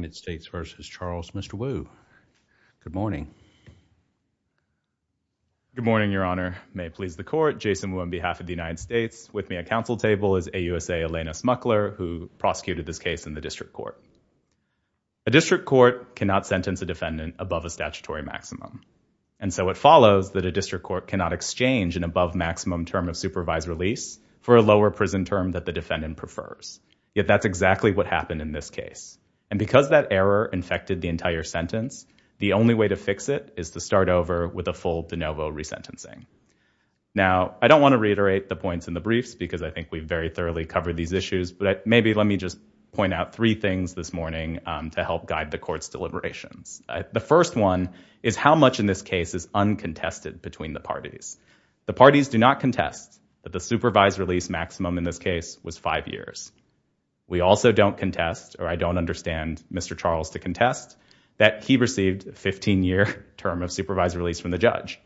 United States v. Charles, Mr. Wu. Good morning. Good morning, your honor. May it please the court, Jason Wu on behalf of the United States. With me at council table is AUSA Elena Smuckler, who prosecuted this case in the district court. A district court cannot sentence a defendant above a statutory maximum. And so it follows that a district court cannot exchange an above maximum term of supervised release for a lower prison term that the defendant prefers. Yet that's exactly what happened in this case. And because that error infected the entire sentence, the only way to fix it is to start over with a full de novo resentencing. Now, I don't want to reiterate the points in the briefs because I think we've very thoroughly covered these issues, but maybe let me just point out three things this morning to help guide the court's deliberations. The first one is how much in this case is uncontested between the parties. The parties do not contest that the supervised Mr. Charles to contest that he received a 15-year term of supervised release from the judge.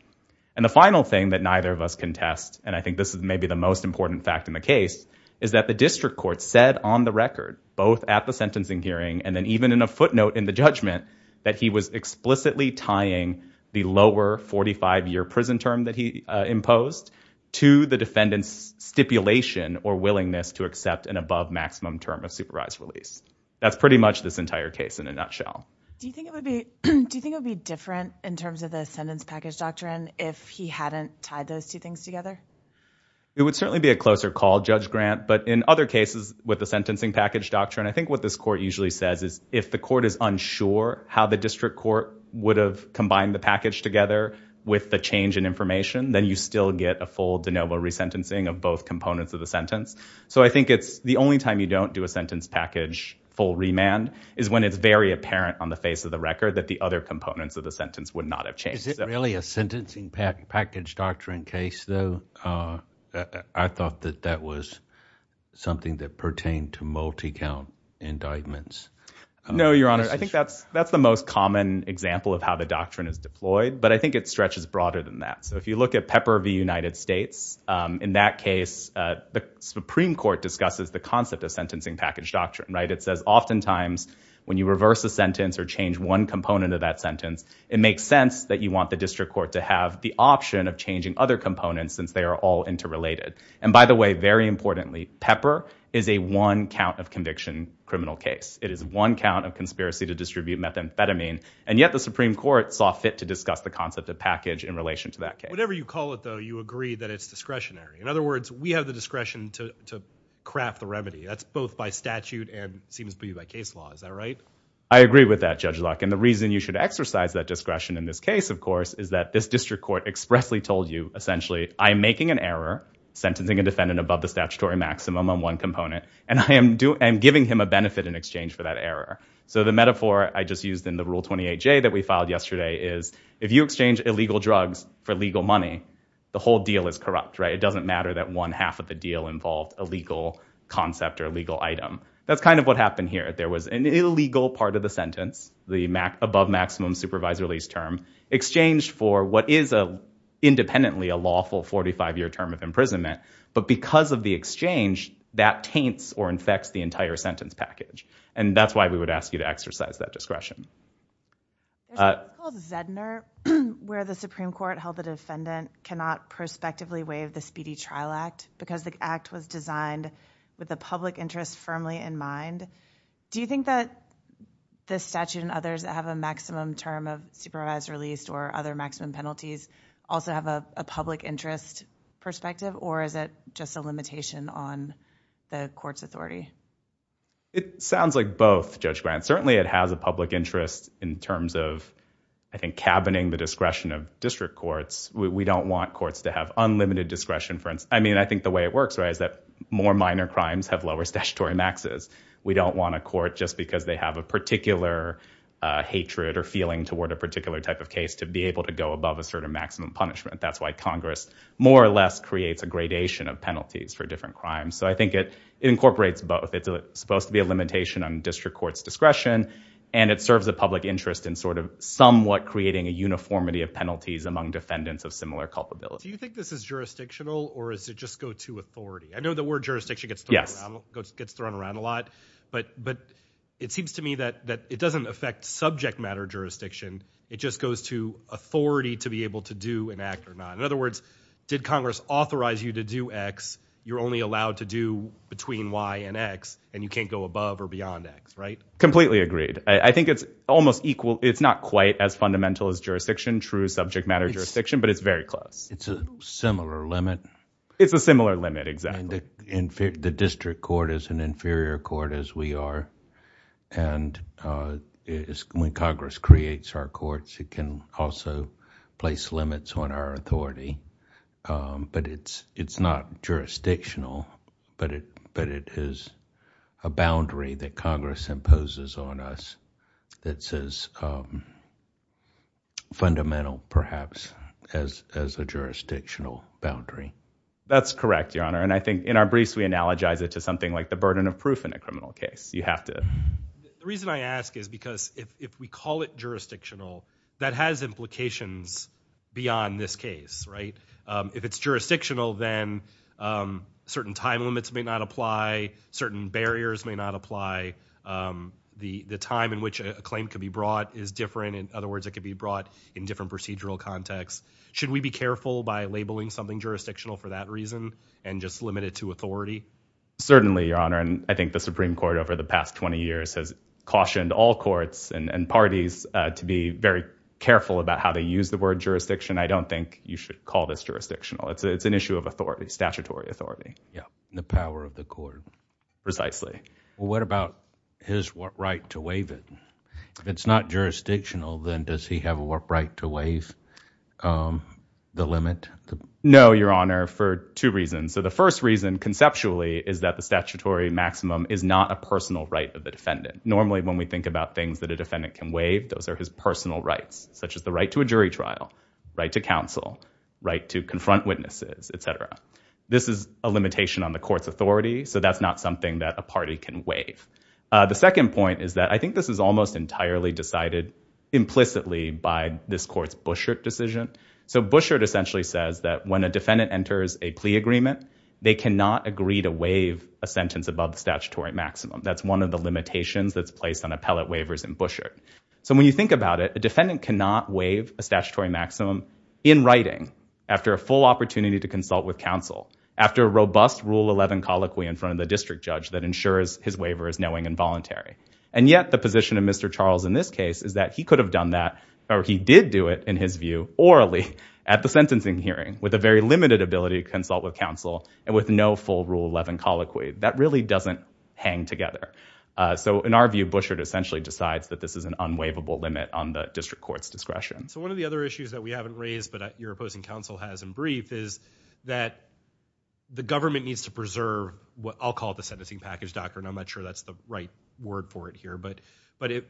And the final thing that neither of us contest, and I think this is maybe the most important fact in the case, is that the district court said on the record, both at the sentencing hearing and then even in a footnote in the judgment, that he was explicitly tying the lower 45-year prison term that he imposed to the defendant's stipulation or willingness to accept an above maximum term of supervised release. That's pretty much this entire case in a nutshell. Do you think it would be different in terms of the sentence package doctrine if he hadn't tied those two things together? It would certainly be a closer call, Judge Grant, but in other cases with the sentencing package doctrine, I think what this court usually says is if the court is unsure how the district court would have combined the package together with the change in information, then you still get a full de novo resentencing of both components of the sentence. So I think it's the only time you don't do a sentence package full remand is when it's very apparent on the face of the record that the other components of the sentence would not have changed. Is it really a sentencing package doctrine case, though? I thought that that was something that pertained to multi-count indictments. No, Your Honor. I think that's the most common example of how the doctrine is deployed, but I think it stretches broader than that. So if you look at Pepper v. United States, in that case, the Supreme Court discusses the concept of sentencing package doctrine, right? It says oftentimes when you reverse a sentence or change one component of that sentence, it makes sense that you want the district court to have the option of changing other components since they are all interrelated. And by the way, very importantly, Pepper is a one count of conviction criminal case. It is one count of conspiracy to distribute methamphetamine, and yet the Supreme Court saw fit to discuss the concept of package in relation to that case. Whatever you call it, though, you agree that it's discretionary. In other words, we have the discretion to craft the remedy. That's both by statute and seems to be by case law. Is that right? I agree with that, Judge Luck. And the reason you should exercise that discretion in this case, of course, is that this district court expressly told you, essentially, I'm making an error, sentencing a defendant above the statutory maximum on one component, and I am giving him a benefit in exchange for that error. So the metaphor I just used in the Rule 28J that we filed yesterday is if you exchange illegal drugs for legal money, the whole deal is corrupt, right? It doesn't matter that one half of the deal involved a legal concept or a legal item. That's kind of what happened here. There was an illegal part of the sentence, the above maximum supervisor lease term, exchanged for what is independently a lawful 45-year term of imprisonment. But because of the exchange, that taints or infects the entire sentence package. And that's why we would ask you to exercise that discretion. There's a law called Zedner where the Supreme Court held the defendant cannot prospectively waive the Speedy Trial Act because the act was designed with the public interest firmly in mind. Do you think that this statute and others that have a maximum term of supervised release or other maximum penalties also have a public interest perspective, or is it just a limitation on the court's authority? It sounds like both, Judge Grant. Certainly, it has a public interest in terms of, I think, cabining the discretion of district courts. We don't want courts to have unlimited discretion. I mean, I think the way it works, right, is that more minor crimes have lower statutory maxes. We don't want a court just because they have a particular hatred or feeling toward a particular type of case to be able to go above a certain punishment. That's why Congress more or less creates a gradation of penalties for different crimes. So I think it incorporates both. It's supposed to be a limitation on district court's discretion, and it serves the public interest in sort of somewhat creating a uniformity of penalties among defendants of similar culpability. Do you think this is jurisdictional, or does it just go to authority? I know the word jurisdiction gets thrown around a lot, but it seems to me that it doesn't affect subject matter jurisdiction. It just goes to authority to be able to do an act or not. In other words, did Congress authorize you to do X? You're only allowed to do between Y and X, and you can't go above or beyond X, right? Completely agreed. I think it's almost equal. It's not quite as fundamental as jurisdiction, true subject matter jurisdiction, but it's very close. It's a similar limit. It's a similar limit, exactly. The district court is an inferior court as we are, and when Congress creates our courts, it can also place limits on our authority. But it's not jurisdictional, but it is a boundary that Congress imposes on us that's as fundamental, perhaps, as a jurisdictional boundary. That's correct, Your Honor. And I analogize it to something like the burden of proof in a criminal case. You have to. The reason I ask is because if we call it jurisdictional, that has implications beyond this case, right? If it's jurisdictional, then certain time limits may not apply. Certain barriers may not apply. The time in which a claim can be brought is different. In other words, it could be brought in different procedural contexts. Should we be careful by labeling something jurisdictional for that reason and just limit it to authority? Certainly, Your Honor, and I think the Supreme Court over the past 20 years has cautioned all courts and parties to be very careful about how they use the word jurisdiction. I don't think you should call this jurisdictional. It's an issue of authority, statutory authority. Yeah, the power of the court. Precisely. What about his right to waive it? If it's not jurisdictional, then does he have a right to waive the limit? No, Your Honor, for two reasons. So the first reason, conceptually, is that the statutory maximum is not a personal right of the defendant. Normally, when we think about things that a defendant can waive, those are his personal rights, such as the right to a jury trial, right to counsel, right to confront witnesses, et cetera. This is a limitation on the court's authority, so that's not something that a party can waive. The second point is that I think this almost entirely decided implicitly by this court's Bouchard decision. So Bouchard essentially says that when a defendant enters a plea agreement, they cannot agree to waive a sentence above the statutory maximum. That's one of the limitations that's placed on appellate waivers in Bouchard. So when you think about it, a defendant cannot waive a statutory maximum in writing after a full opportunity to consult with counsel, after a robust Rule 11 colloquy in front of the district judge that ensures his waiver is knowing and voluntary. And yet, the position of Mr. Charles in this case is that he could have done that, or he did do it, in his view, orally at the sentencing hearing, with a very limited ability to consult with counsel, and with no full Rule 11 colloquy. That really doesn't hang together. So in our view, Bouchard essentially decides that this is an unwaivable limit on the district court's discretion. So one of the other issues that we haven't raised, but your opposing counsel has in brief, is that the government needs to preserve what I'll call the sentencing package, doctor, and I'm not sure that's the right word for it here. But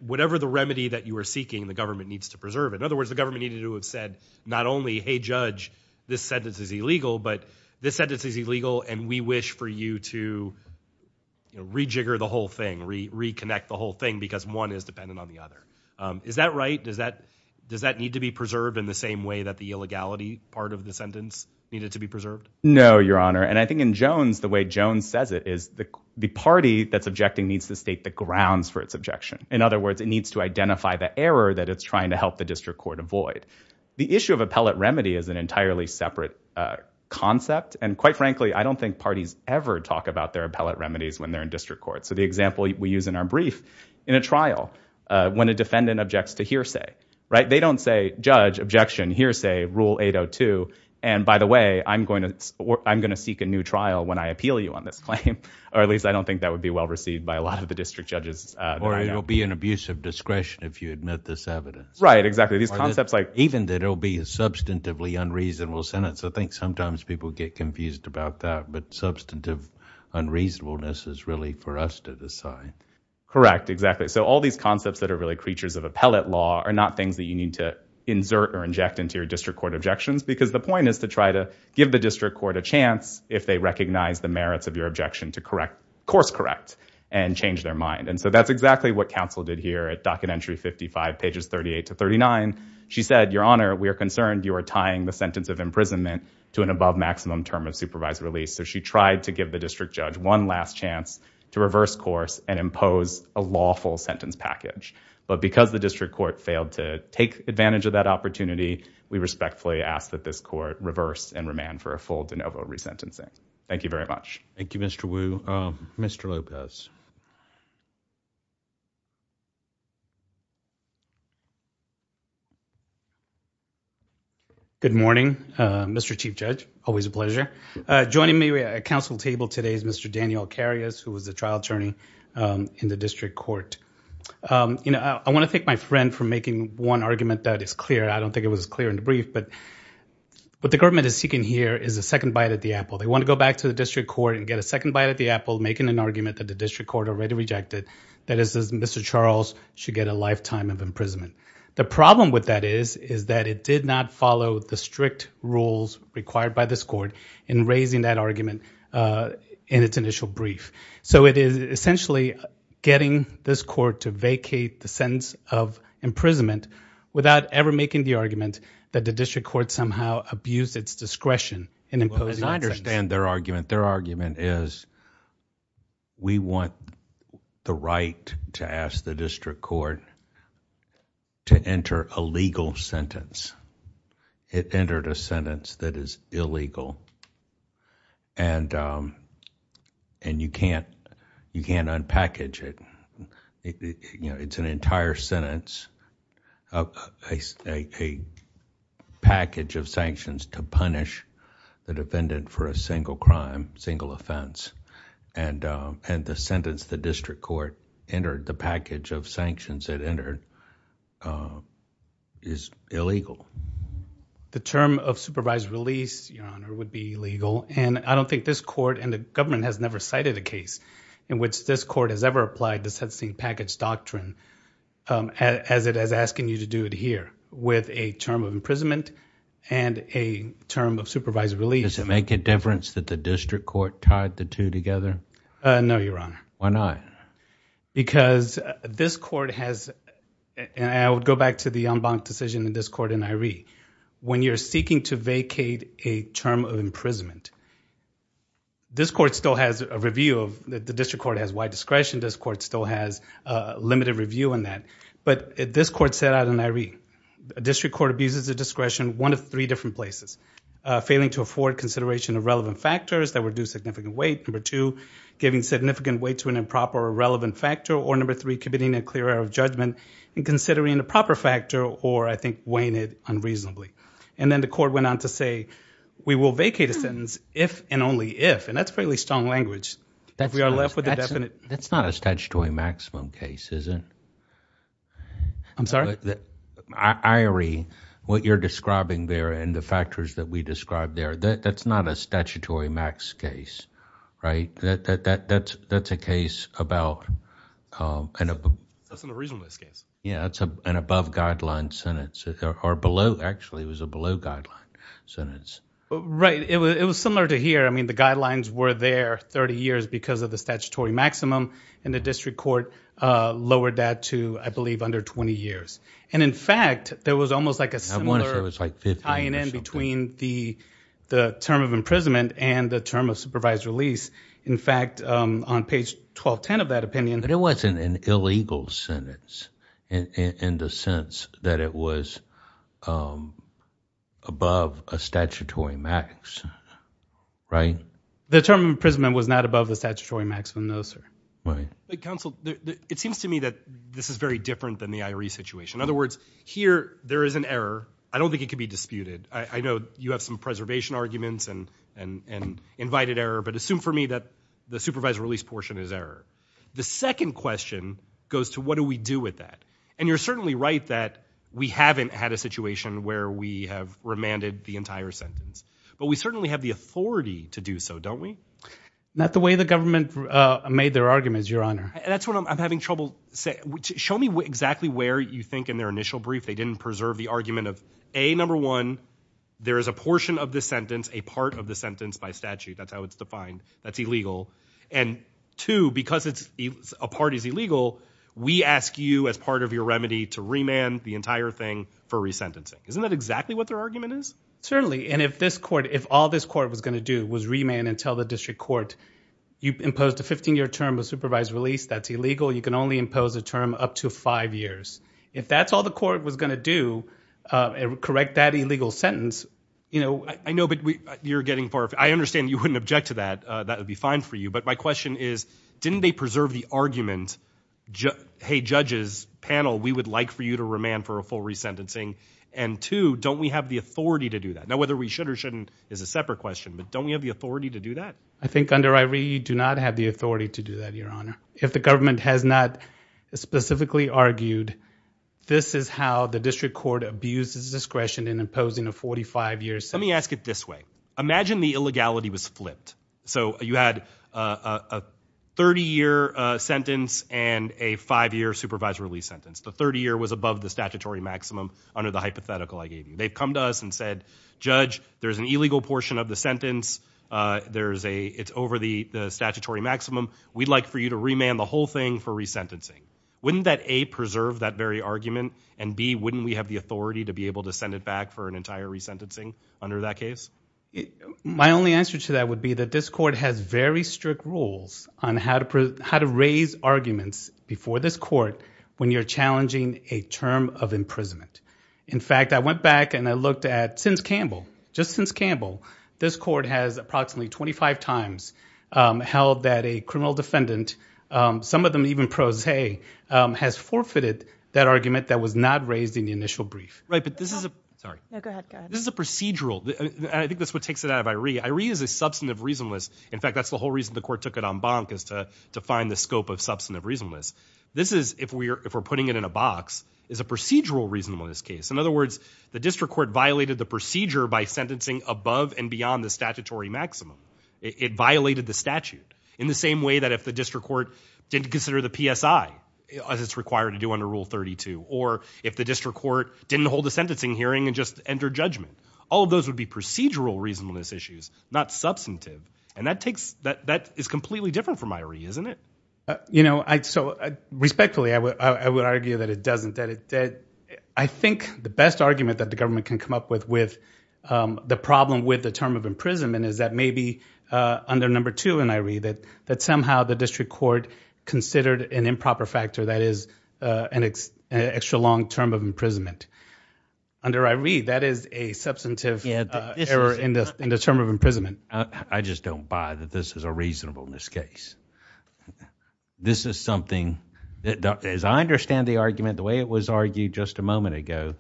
whatever the remedy that you are seeking, the government needs to preserve. In other words, the government needed to have said, not only, hey, judge, this sentence is illegal, but this sentence is illegal, and we wish for you to rejigger the whole thing, reconnect the whole thing, because one is dependent on the other. Is that right? Does that need to be preserved in the same way that the illegality part of the preserved? No, your honor. And I think in Jones, the way Jones says it is the party that's objecting needs to state the grounds for its objection. In other words, it needs to identify the error that it's trying to help the district court avoid. The issue of appellate remedy is an entirely separate concept. And quite frankly, I don't think parties ever talk about their appellate remedies when they're in district court. So the example we use in our brief, in a trial, when a defendant objects to hearsay. They don't say, judge, objection, hearsay, rule 802. And by the way, I'm going to seek a new trial when I appeal you on this claim. Or at least I don't think that would be well received by a lot of the district judges. Or it will be an abuse of discretion if you admit this evidence. Right, exactly. These concepts like... Even that it'll be a substantively unreasonable sentence. I think sometimes people get confused about that. But substantive unreasonableness is really for us to decide. Correct, exactly. So all these concepts that are really creatures of appellate law are not things that you need to insert or inject into your district court objections. Because the point is to try to give the district court a chance if they recognize the merits of your objection to course correct and change their mind. And so that's exactly what counsel did here at docket entry 55, pages 38 to 39. She said, your honor, we are concerned you are tying the sentence of imprisonment to an above maximum term of supervised release. So she tried to give the district judge one last chance to reverse course and impose a lawful sentence package. But because the district court failed to take advantage of that opportunity, we respectfully ask that this court reverse and remand for a full de novo resentencing. Thank you very much. Thank you, Mr. Wu. Mr. Lopez. Good morning, Mr. Chief Judge. Always a pleasure. Joining me at council table today is Mr. Daniel Karius, who was the trial attorney in the district court. You know, I want to thank my friend for making one argument that is clear. I don't think it was clear in the brief, but what the government is seeking here is a second bite at the apple. They want to go back to the district court and get a second bite at the apple, making an argument that the district court already rejected. That is, Mr. Charles should get a lifetime of imprisonment. The problem with that is, is that it did not follow the strict rules required by this court in raising that argument in its initial brief. So it is essentially getting this court to vacate the sentence of imprisonment without ever making the argument that the district court somehow abused its discretion in imposing. I understand their argument. Their argument is we want the right to ask the district court to enter a legal sentence. It entered a sentence that is illegal and you can't unpackage it. It's an entire sentence, a package of sanctions to punish the defendant for a single crime, single offense, and the sentence the district court entered the package of sanctions that entered is illegal. The term of supervised release, Your Honor, would be legal and I don't think this court and the government has never cited a case in which this court has ever applied the sentencing package doctrine as it is asking you to do it here with a term of imprisonment and a term of supervised release. Does it make a difference that the district court tied the two together? No, Your Honor. Why not? Because this court has, and I would go back to the Umbach decision in this court in Iree, when you're seeking to vacate a term of imprisonment, this court still has a review of the district court has wide discretion. This court still has a limited review on that. But this court set out in Iree, a district court abuses the discretion one of three different places. Failing to afford consideration of relevant factors that would do significant weight. Number two, giving significant weight to an improper or relevant factor or number three, committing a clear error of judgment and considering the proper factor or I think weighing it unreasonably. And then the court went on to say, we will vacate a sentence if and only if, and that's fairly strong language, that we are left with a definite. That's not a statutory maximum case, is it? I'm sorry? Iree, what you're describing there and the factors that we described there, that's not a statutory max case, right? That's a case about... That's an unreasonable case. Yeah, that's an above guideline sentence or below. Actually, it was a below guideline sentence. Right. It was similar to here. I mean, the guidelines were there 30 years because of the statutory maximum and the district court lowered that to, I believe, under 20 years. And in fact, there was almost like a similar... I wonder if it was like 50 or something. The term of imprisonment and the term of supervised release, in fact, on page 1210 of that opinion... But it wasn't an illegal sentence in the sense that it was above a statutory max, right? The term of imprisonment was not above the statutory maximum, no, sir. Right. Counsel, it seems to me that this is very different than the Iree situation. In other words, here, there is an error. I don't think it can be disputed. I know you have some preservation arguments and invited error, but assume for me that the supervised release portion is error. The second question goes to what do we do with that? And you're certainly right that we haven't had a situation where we have remanded the entire sentence, but we certainly have the authority to do so, don't we? Not the way the government made their arguments, Your Honor. That's what I'm having trouble saying. Show me exactly where you think in their initial brief they didn't preserve the argument of, A, number one, there is a portion of the sentence, a part of the sentence by statute. That's how it's defined. That's illegal. And two, because a part is illegal, we ask you as part of your remedy to remand the entire thing for resentencing. Isn't that exactly what their argument is? Certainly. And if all this court was going to do was remand and tell the district court, you've imposed a 15-year term of supervised release. That's illegal. You can only impose a term up to five years. If that's all the court was going to do, correct that illegal sentence. I know, but you're getting far. I understand you wouldn't object to that. That would be fine for you. But my question is, didn't they preserve the argument, hey, judges, panel, we would like for you to remand for a full resentencing? And two, don't we have the authority to do that? Now, whether we should or shouldn't is a separate question, but don't we have the authority to do that? I think under I.R.E., you do not have the authority to do that, Your Honor. If the government has not specifically argued, this is how the district court abuses discretion in imposing a 45-year sentence. Let me ask it this way. Imagine the illegality was flipped. So you had a 30-year sentence and a five-year supervised release sentence. The 30-year was above the statutory maximum under the hypothetical I gave you. They've come to us and said, Judge, there's an illegal portion of the sentence. It's over the statutory maximum. We'd like for you to remand the whole thing for resentencing. Wouldn't that, A, preserve that very argument? And, B, wouldn't we have the authority to be able to send it back for an entire resentencing under that case? My only answer to that would be that this court has very strict rules on how to raise arguments before this court when you're challenging a term of imprisonment. In fact, I went back and I looked at, since Campbell, just since Campbell, this court has approximately 25 times held that a criminal defendant, some of them even pro se, has forfeited that argument that was not raised in the initial brief. Right, but this is a procedural. I think that's what takes it out of I.R.E. I.R.E. is a substantive reasonableness. In fact, that's the whole reason the court took it on bonk is to find the scope of substantive reasonableness. This is, if we're putting it in a box, is a procedural reasonableness case. In other words, the district court violated the procedure by sentencing above and beyond the statutory maximum. It violated the statute in the same way that if the district court didn't consider the PSI as it's required to do under Rule 32, or if the district court didn't hold a sentencing hearing and just entered judgment. All of those would be procedural reasonableness issues, not substantive. And that takes, that is completely different from I.R.E., isn't it? You know, so respectfully, I would argue that it doesn't I think the best argument that the government can come up with the problem with the term of imprisonment is that maybe under number two in I.R.E. that somehow the district court considered an improper factor that is an extra long term of imprisonment. Under I.R.E., that is a substantive error in the term of imprisonment. I just don't buy that this is a reasonableness case. This is something, as I understand the argument, the way it was argued just a moment ago,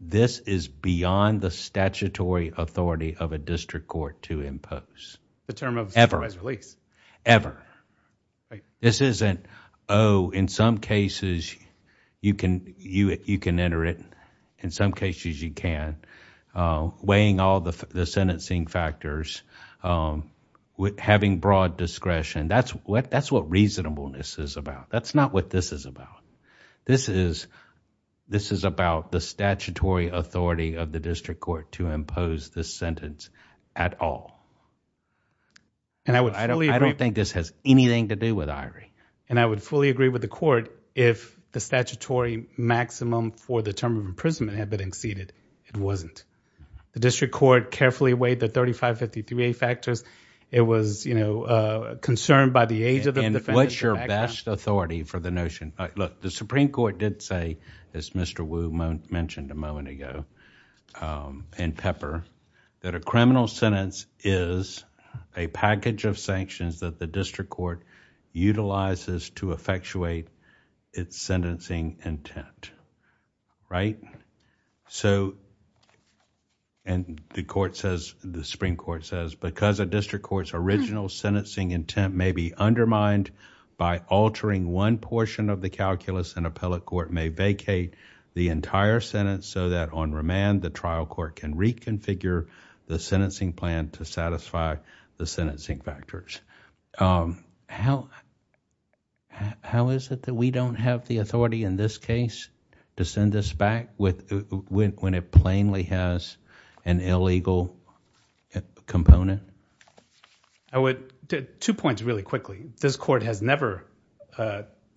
this is beyond the statutory authority of a district court to impose. The term of supervised release. Ever. This isn't, oh, in some cases, you can enter it. In some cases, you can. Weighing all the sentencing factors. Having broad discretion. That's what reasonableness is about. That's not what this is about. This is, this is about the statutory authority of the district court to impose this sentence at all. And I don't think this has anything to do with I.R.E. And I would fully agree with the court if the statutory maximum for the term of imprisonment had been exceeded. It wasn't. The district court carefully weighed the 3553A factors. It was, you know, concerned by the age of the defendant. And what's your best authority for the notion? Look, the supreme court did say, as Mr. Wu mentioned a moment ago, and Pepper, that a criminal sentence is a package of sanctions that the district court utilizes to effectuate its sentencing intent. Right? So, and the court says, the supreme court says, because a district court's original sentencing intent may be undermined by altering one portion of the calculus, an appellate court may vacate the entire sentence so that on remand, the trial court can reconfigure the sentencing plan to satisfy the sentencing factors. How, how is it that we don't have the in this case to send this back with, when it plainly has an illegal component? I would, two points really quickly. This court has never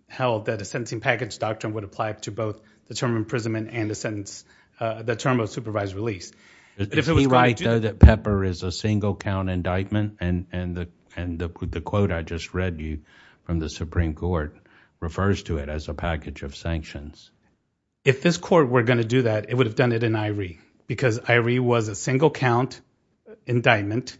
held that a sentencing package doctrine would apply to both the term of imprisonment and the sentence, the term of supervised release. Is he right though that Pepper is a single count indictment? And, and the, and the quote I just from the supreme court refers to it as a package of sanctions. If this court were going to do that, it would have done it in Iree, because Iree was a single count indictment.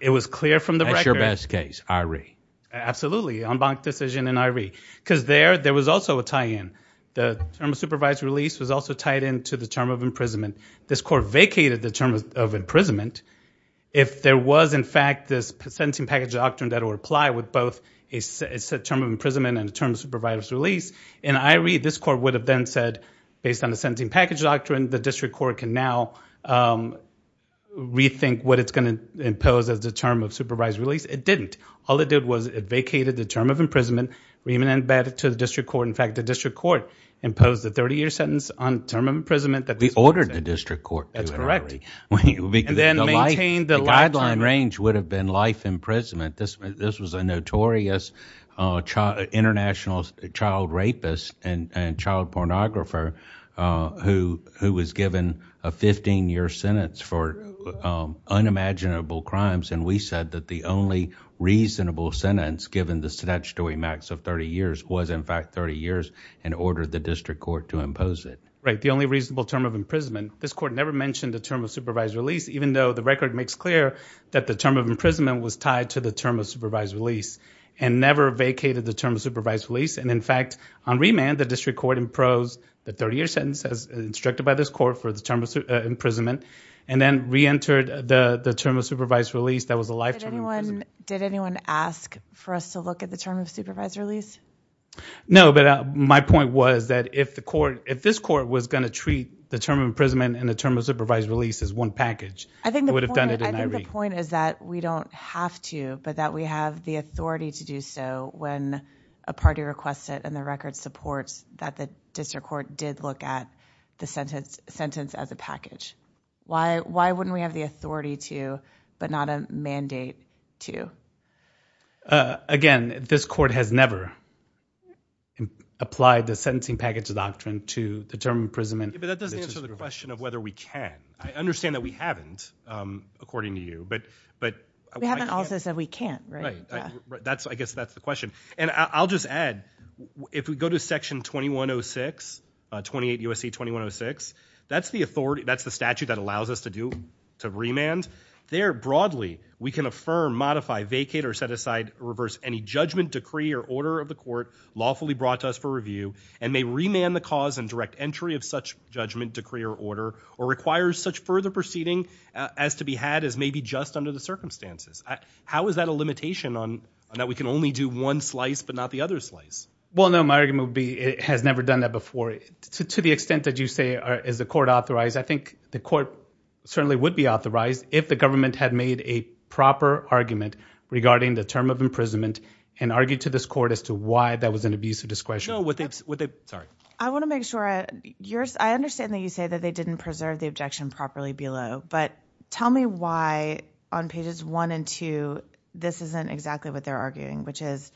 It was clear from the record. That's your best case, Iree. Absolutely. En banc decision in Iree, because there, there was also a tie in, the term of supervised release was also tied into the term of imprisonment. This court vacated the term of imprisonment. If there was in fact this sentencing package doctrine that will apply with both a set term of imprisonment and the term of supervised release in Iree, this court would have then said, based on the sentencing package doctrine, the district court can now rethink what it's going to impose as the term of supervised release. It didn't. All it did was it vacated the term of imprisonment, remanded it back to the district court. In fact, the district court imposed the 30 year sentence on term of imprisonment. We ordered the district court. That's correct. And then maintain the lifetime. The guideline range would have been life imprisonment. This, this was a notorious international child rapist and child pornographer who, who was given a 15 year sentence for unimaginable crimes. And we said that the only reasonable sentence, given the statutory max of 30 years, was in fact 30 years and ordered the district court to impose it. Right. The only reasonable term of imprisonment, this court never mentioned the term of supervised release, even though the record makes clear that the term of imprisonment was tied to the term of supervised release and never vacated the term of supervised release. And in fact, on remand, the district court imposed the 30 year sentence as instructed by this court for the term of imprisonment, and then reentered the term of supervised release. That was a lifetime. Did anyone, did anyone ask for us to look at the term of supervised release? No, but my point was that if the court, if this court was going to treat the term of imprisonment and the term of supervised release as one package, it would have done it. I think the point is that we don't have to, but that we have the authority to do so when a party requests it and the record supports that the district court did look at the sentence, sentence as a package. Why, why wouldn't we have the authority to, but not a mandate to? Uh, again, this court has never applied the sentencing package doctrine to the term of imprisonment. But that doesn't answer the question of whether we can. I understand that we haven't, um, according to you, but, but we haven't also said we can't, right? Right. That's, I guess that's the question. And I'll just add, if we go to section 2106, uh, 28 USC 2106, that's the authority, that's the statute that allows us to do, to remand there broadly, we can affirm, modify, vacate, or set aside reverse any judgment decree or order of the court lawfully brought to us for review and may remand the cause and direct entry of such judgment decree or order, or requires such further proceeding as to be had as maybe just under the circumstances. How is that a limitation on that? We can only do one slice, but not the other slice. Well, no, my argument would be, it has never done that before to the extent that you say is the court authorized. I think the court certainly would be authorized if the government had made a proper argument regarding the term of imprisonment and argued to this court as to why that was an abuse of discretion. No, what they, what they, sorry. I want to make sure I, yours, I understand that you say that they didn't preserve the objection properly below, but tell me why on pages one and two, this isn't exactly what they're arguing, which is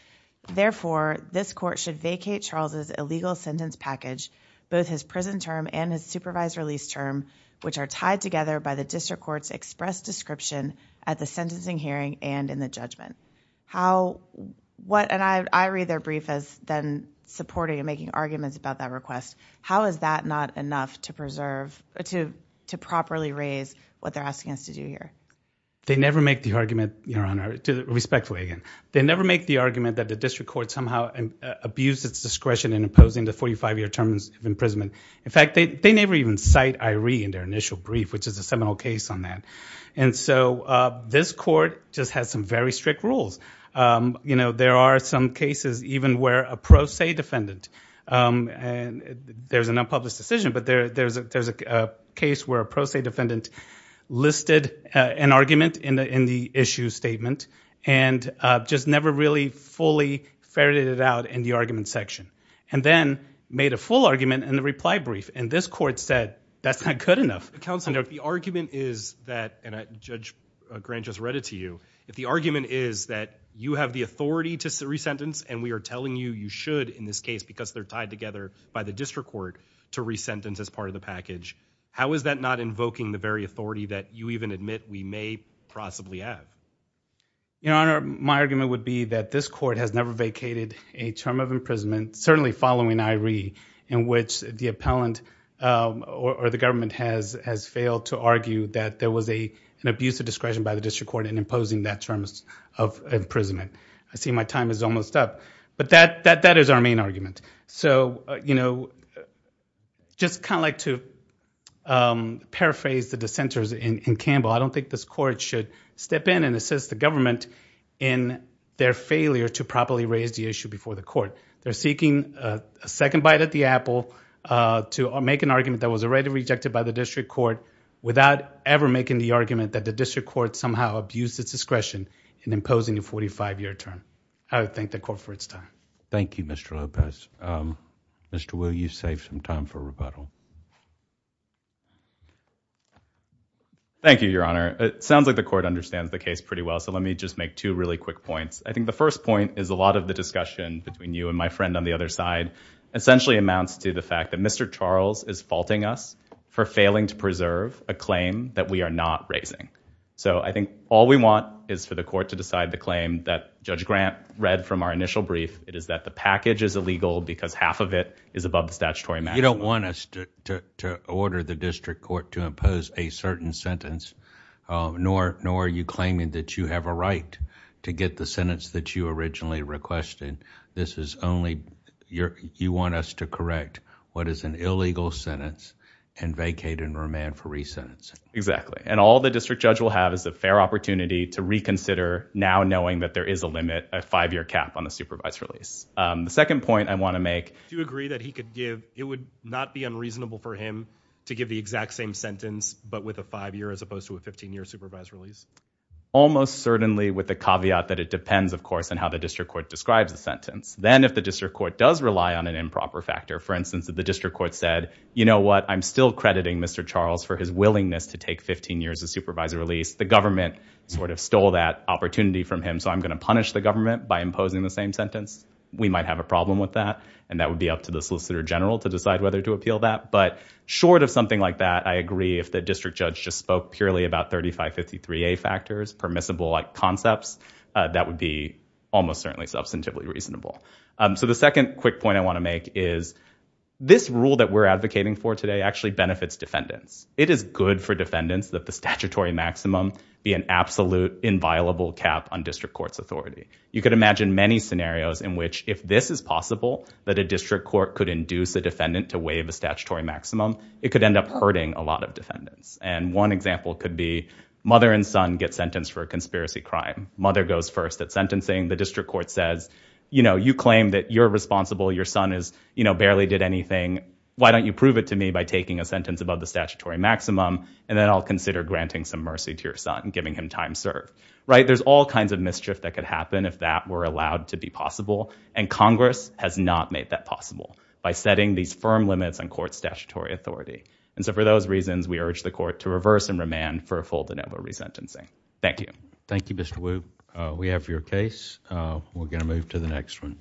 therefore this court should vacate Charles's illegal sentence package, both his prison term and his supervised release which are tied together by the district courts expressed description at the sentencing hearing and in the judgment. How, what, and I, I read their brief as then supporting and making arguments about that request. How is that not enough to preserve, to, to properly raise what they're asking us to do here? They never make the argument, your honor, respectfully again, they never make the argument that the district court somehow abused its discretion in opposing the 45 year terms of imprisonment. In fact, they, they never even cite Iree in their initial brief, which is a seminal case on that. And so this court just has some very strict rules. You know, there are some cases even where a pro se defendant and there's an unpublished decision, but there, there's a, there's a case where a pro se defendant listed an argument in the, in the issue statement and just never really fully ferreted it out in the argument section and then made a full argument in the reply brief. And this court said, that's not good enough. Counselor, if the argument is that, and I, Judge Grant just read it to you. If the argument is that you have the authority to re-sentence and we are telling you, you should in this case, because they're tied together by the district court to re-sentence as part of the package. How is that not invoking the authority that you even admit we may possibly have? Your Honor, my argument would be that this court has never vacated a term of imprisonment, certainly following Iree, in which the appellant or the government has, has failed to argue that there was a, an abuse of discretion by the district court in imposing that terms of imprisonment. I see my time is almost up, but that, that, that is our main argument. So, you know, just kind of like to um, paraphrase the dissenters in, in Campbell. I don't think this court should step in and assist the government in their failure to properly raise the issue before the court. They're seeking a second bite at the apple, uh, to make an argument that was already rejected by the district court without ever making the argument that the district court somehow abused its discretion in imposing a 45-year term. I would thank the court for its time. Thank you, Mr. Lopez. Um, thank you, Your Honor. It sounds like the court understands the case pretty well. So let me just make two really quick points. I think the first point is a lot of the discussion between you and my friend on the other side essentially amounts to the fact that Mr. Charles is faulting us for failing to preserve a claim that we are not raising. So I think all we want is for the court to decide the claim that Judge Grant read from our initial brief. It is that the package is illegal because half of it is above the statutory maximum. You don't want us to, to, to order the district court to impose a certain sentence, uh, nor, nor are you claiming that you have a right to get the sentence that you originally requested. This is only your, you want us to correct what is an illegal sentence and vacate and remand for resentencing. Exactly. And all the district judge will have is a fair opportunity to reconsider now knowing that there is a limit, a five-year cap on supervised release. Um, the second point I want to make, do you agree that he could give, it would not be unreasonable for him to give the exact same sentence, but with a five-year as opposed to a 15-year supervised release? Almost certainly with the caveat that it depends of course on how the district court describes the sentence. Then if the district court does rely on an improper factor, for instance, that the district court said, you know what, I'm still crediting Mr. Charles for his willingness to take 15 years of supervised release. The government sort of stole that opportunity from him. So I'm going to punish the government by imposing the same sentence. We might have a problem with that and that would be up to the solicitor general to decide whether to appeal that. But short of something like that, I agree if the district judge just spoke purely about 3553A factors, permissible like concepts, uh, that would be almost certainly substantively reasonable. Um, so the second quick point I want to make is this rule that we're advocating for today actually benefits defendants. It is good for defendants that the statutory maximum be an absolute inviolable cap on district court's authority. You could imagine many scenarios in which if this is possible, that a district court could induce a defendant to waive a statutory maximum, it could end up hurting a lot of defendants. And one example could be mother and son get sentenced for a conspiracy crime. Mother goes first at sentencing. The district court says, you know, you claim that you're responsible. Your son is, you know, barely did anything. Why don't you prove it to me by taking a sentence above the statutory maximum? And then I'll consider granting some mercy to your son, giving him time served, right? There's all kinds of mischief that could happen if that were allowed to be possible. And Congress has not made that possible by setting these firm limits on court statutory authority. And so for those reasons, we urge the court to reverse and remand for a full denial of resentencing. Thank you. Thank you, Mr. Wu. We have your case. Uh, we're gonna move to the next one.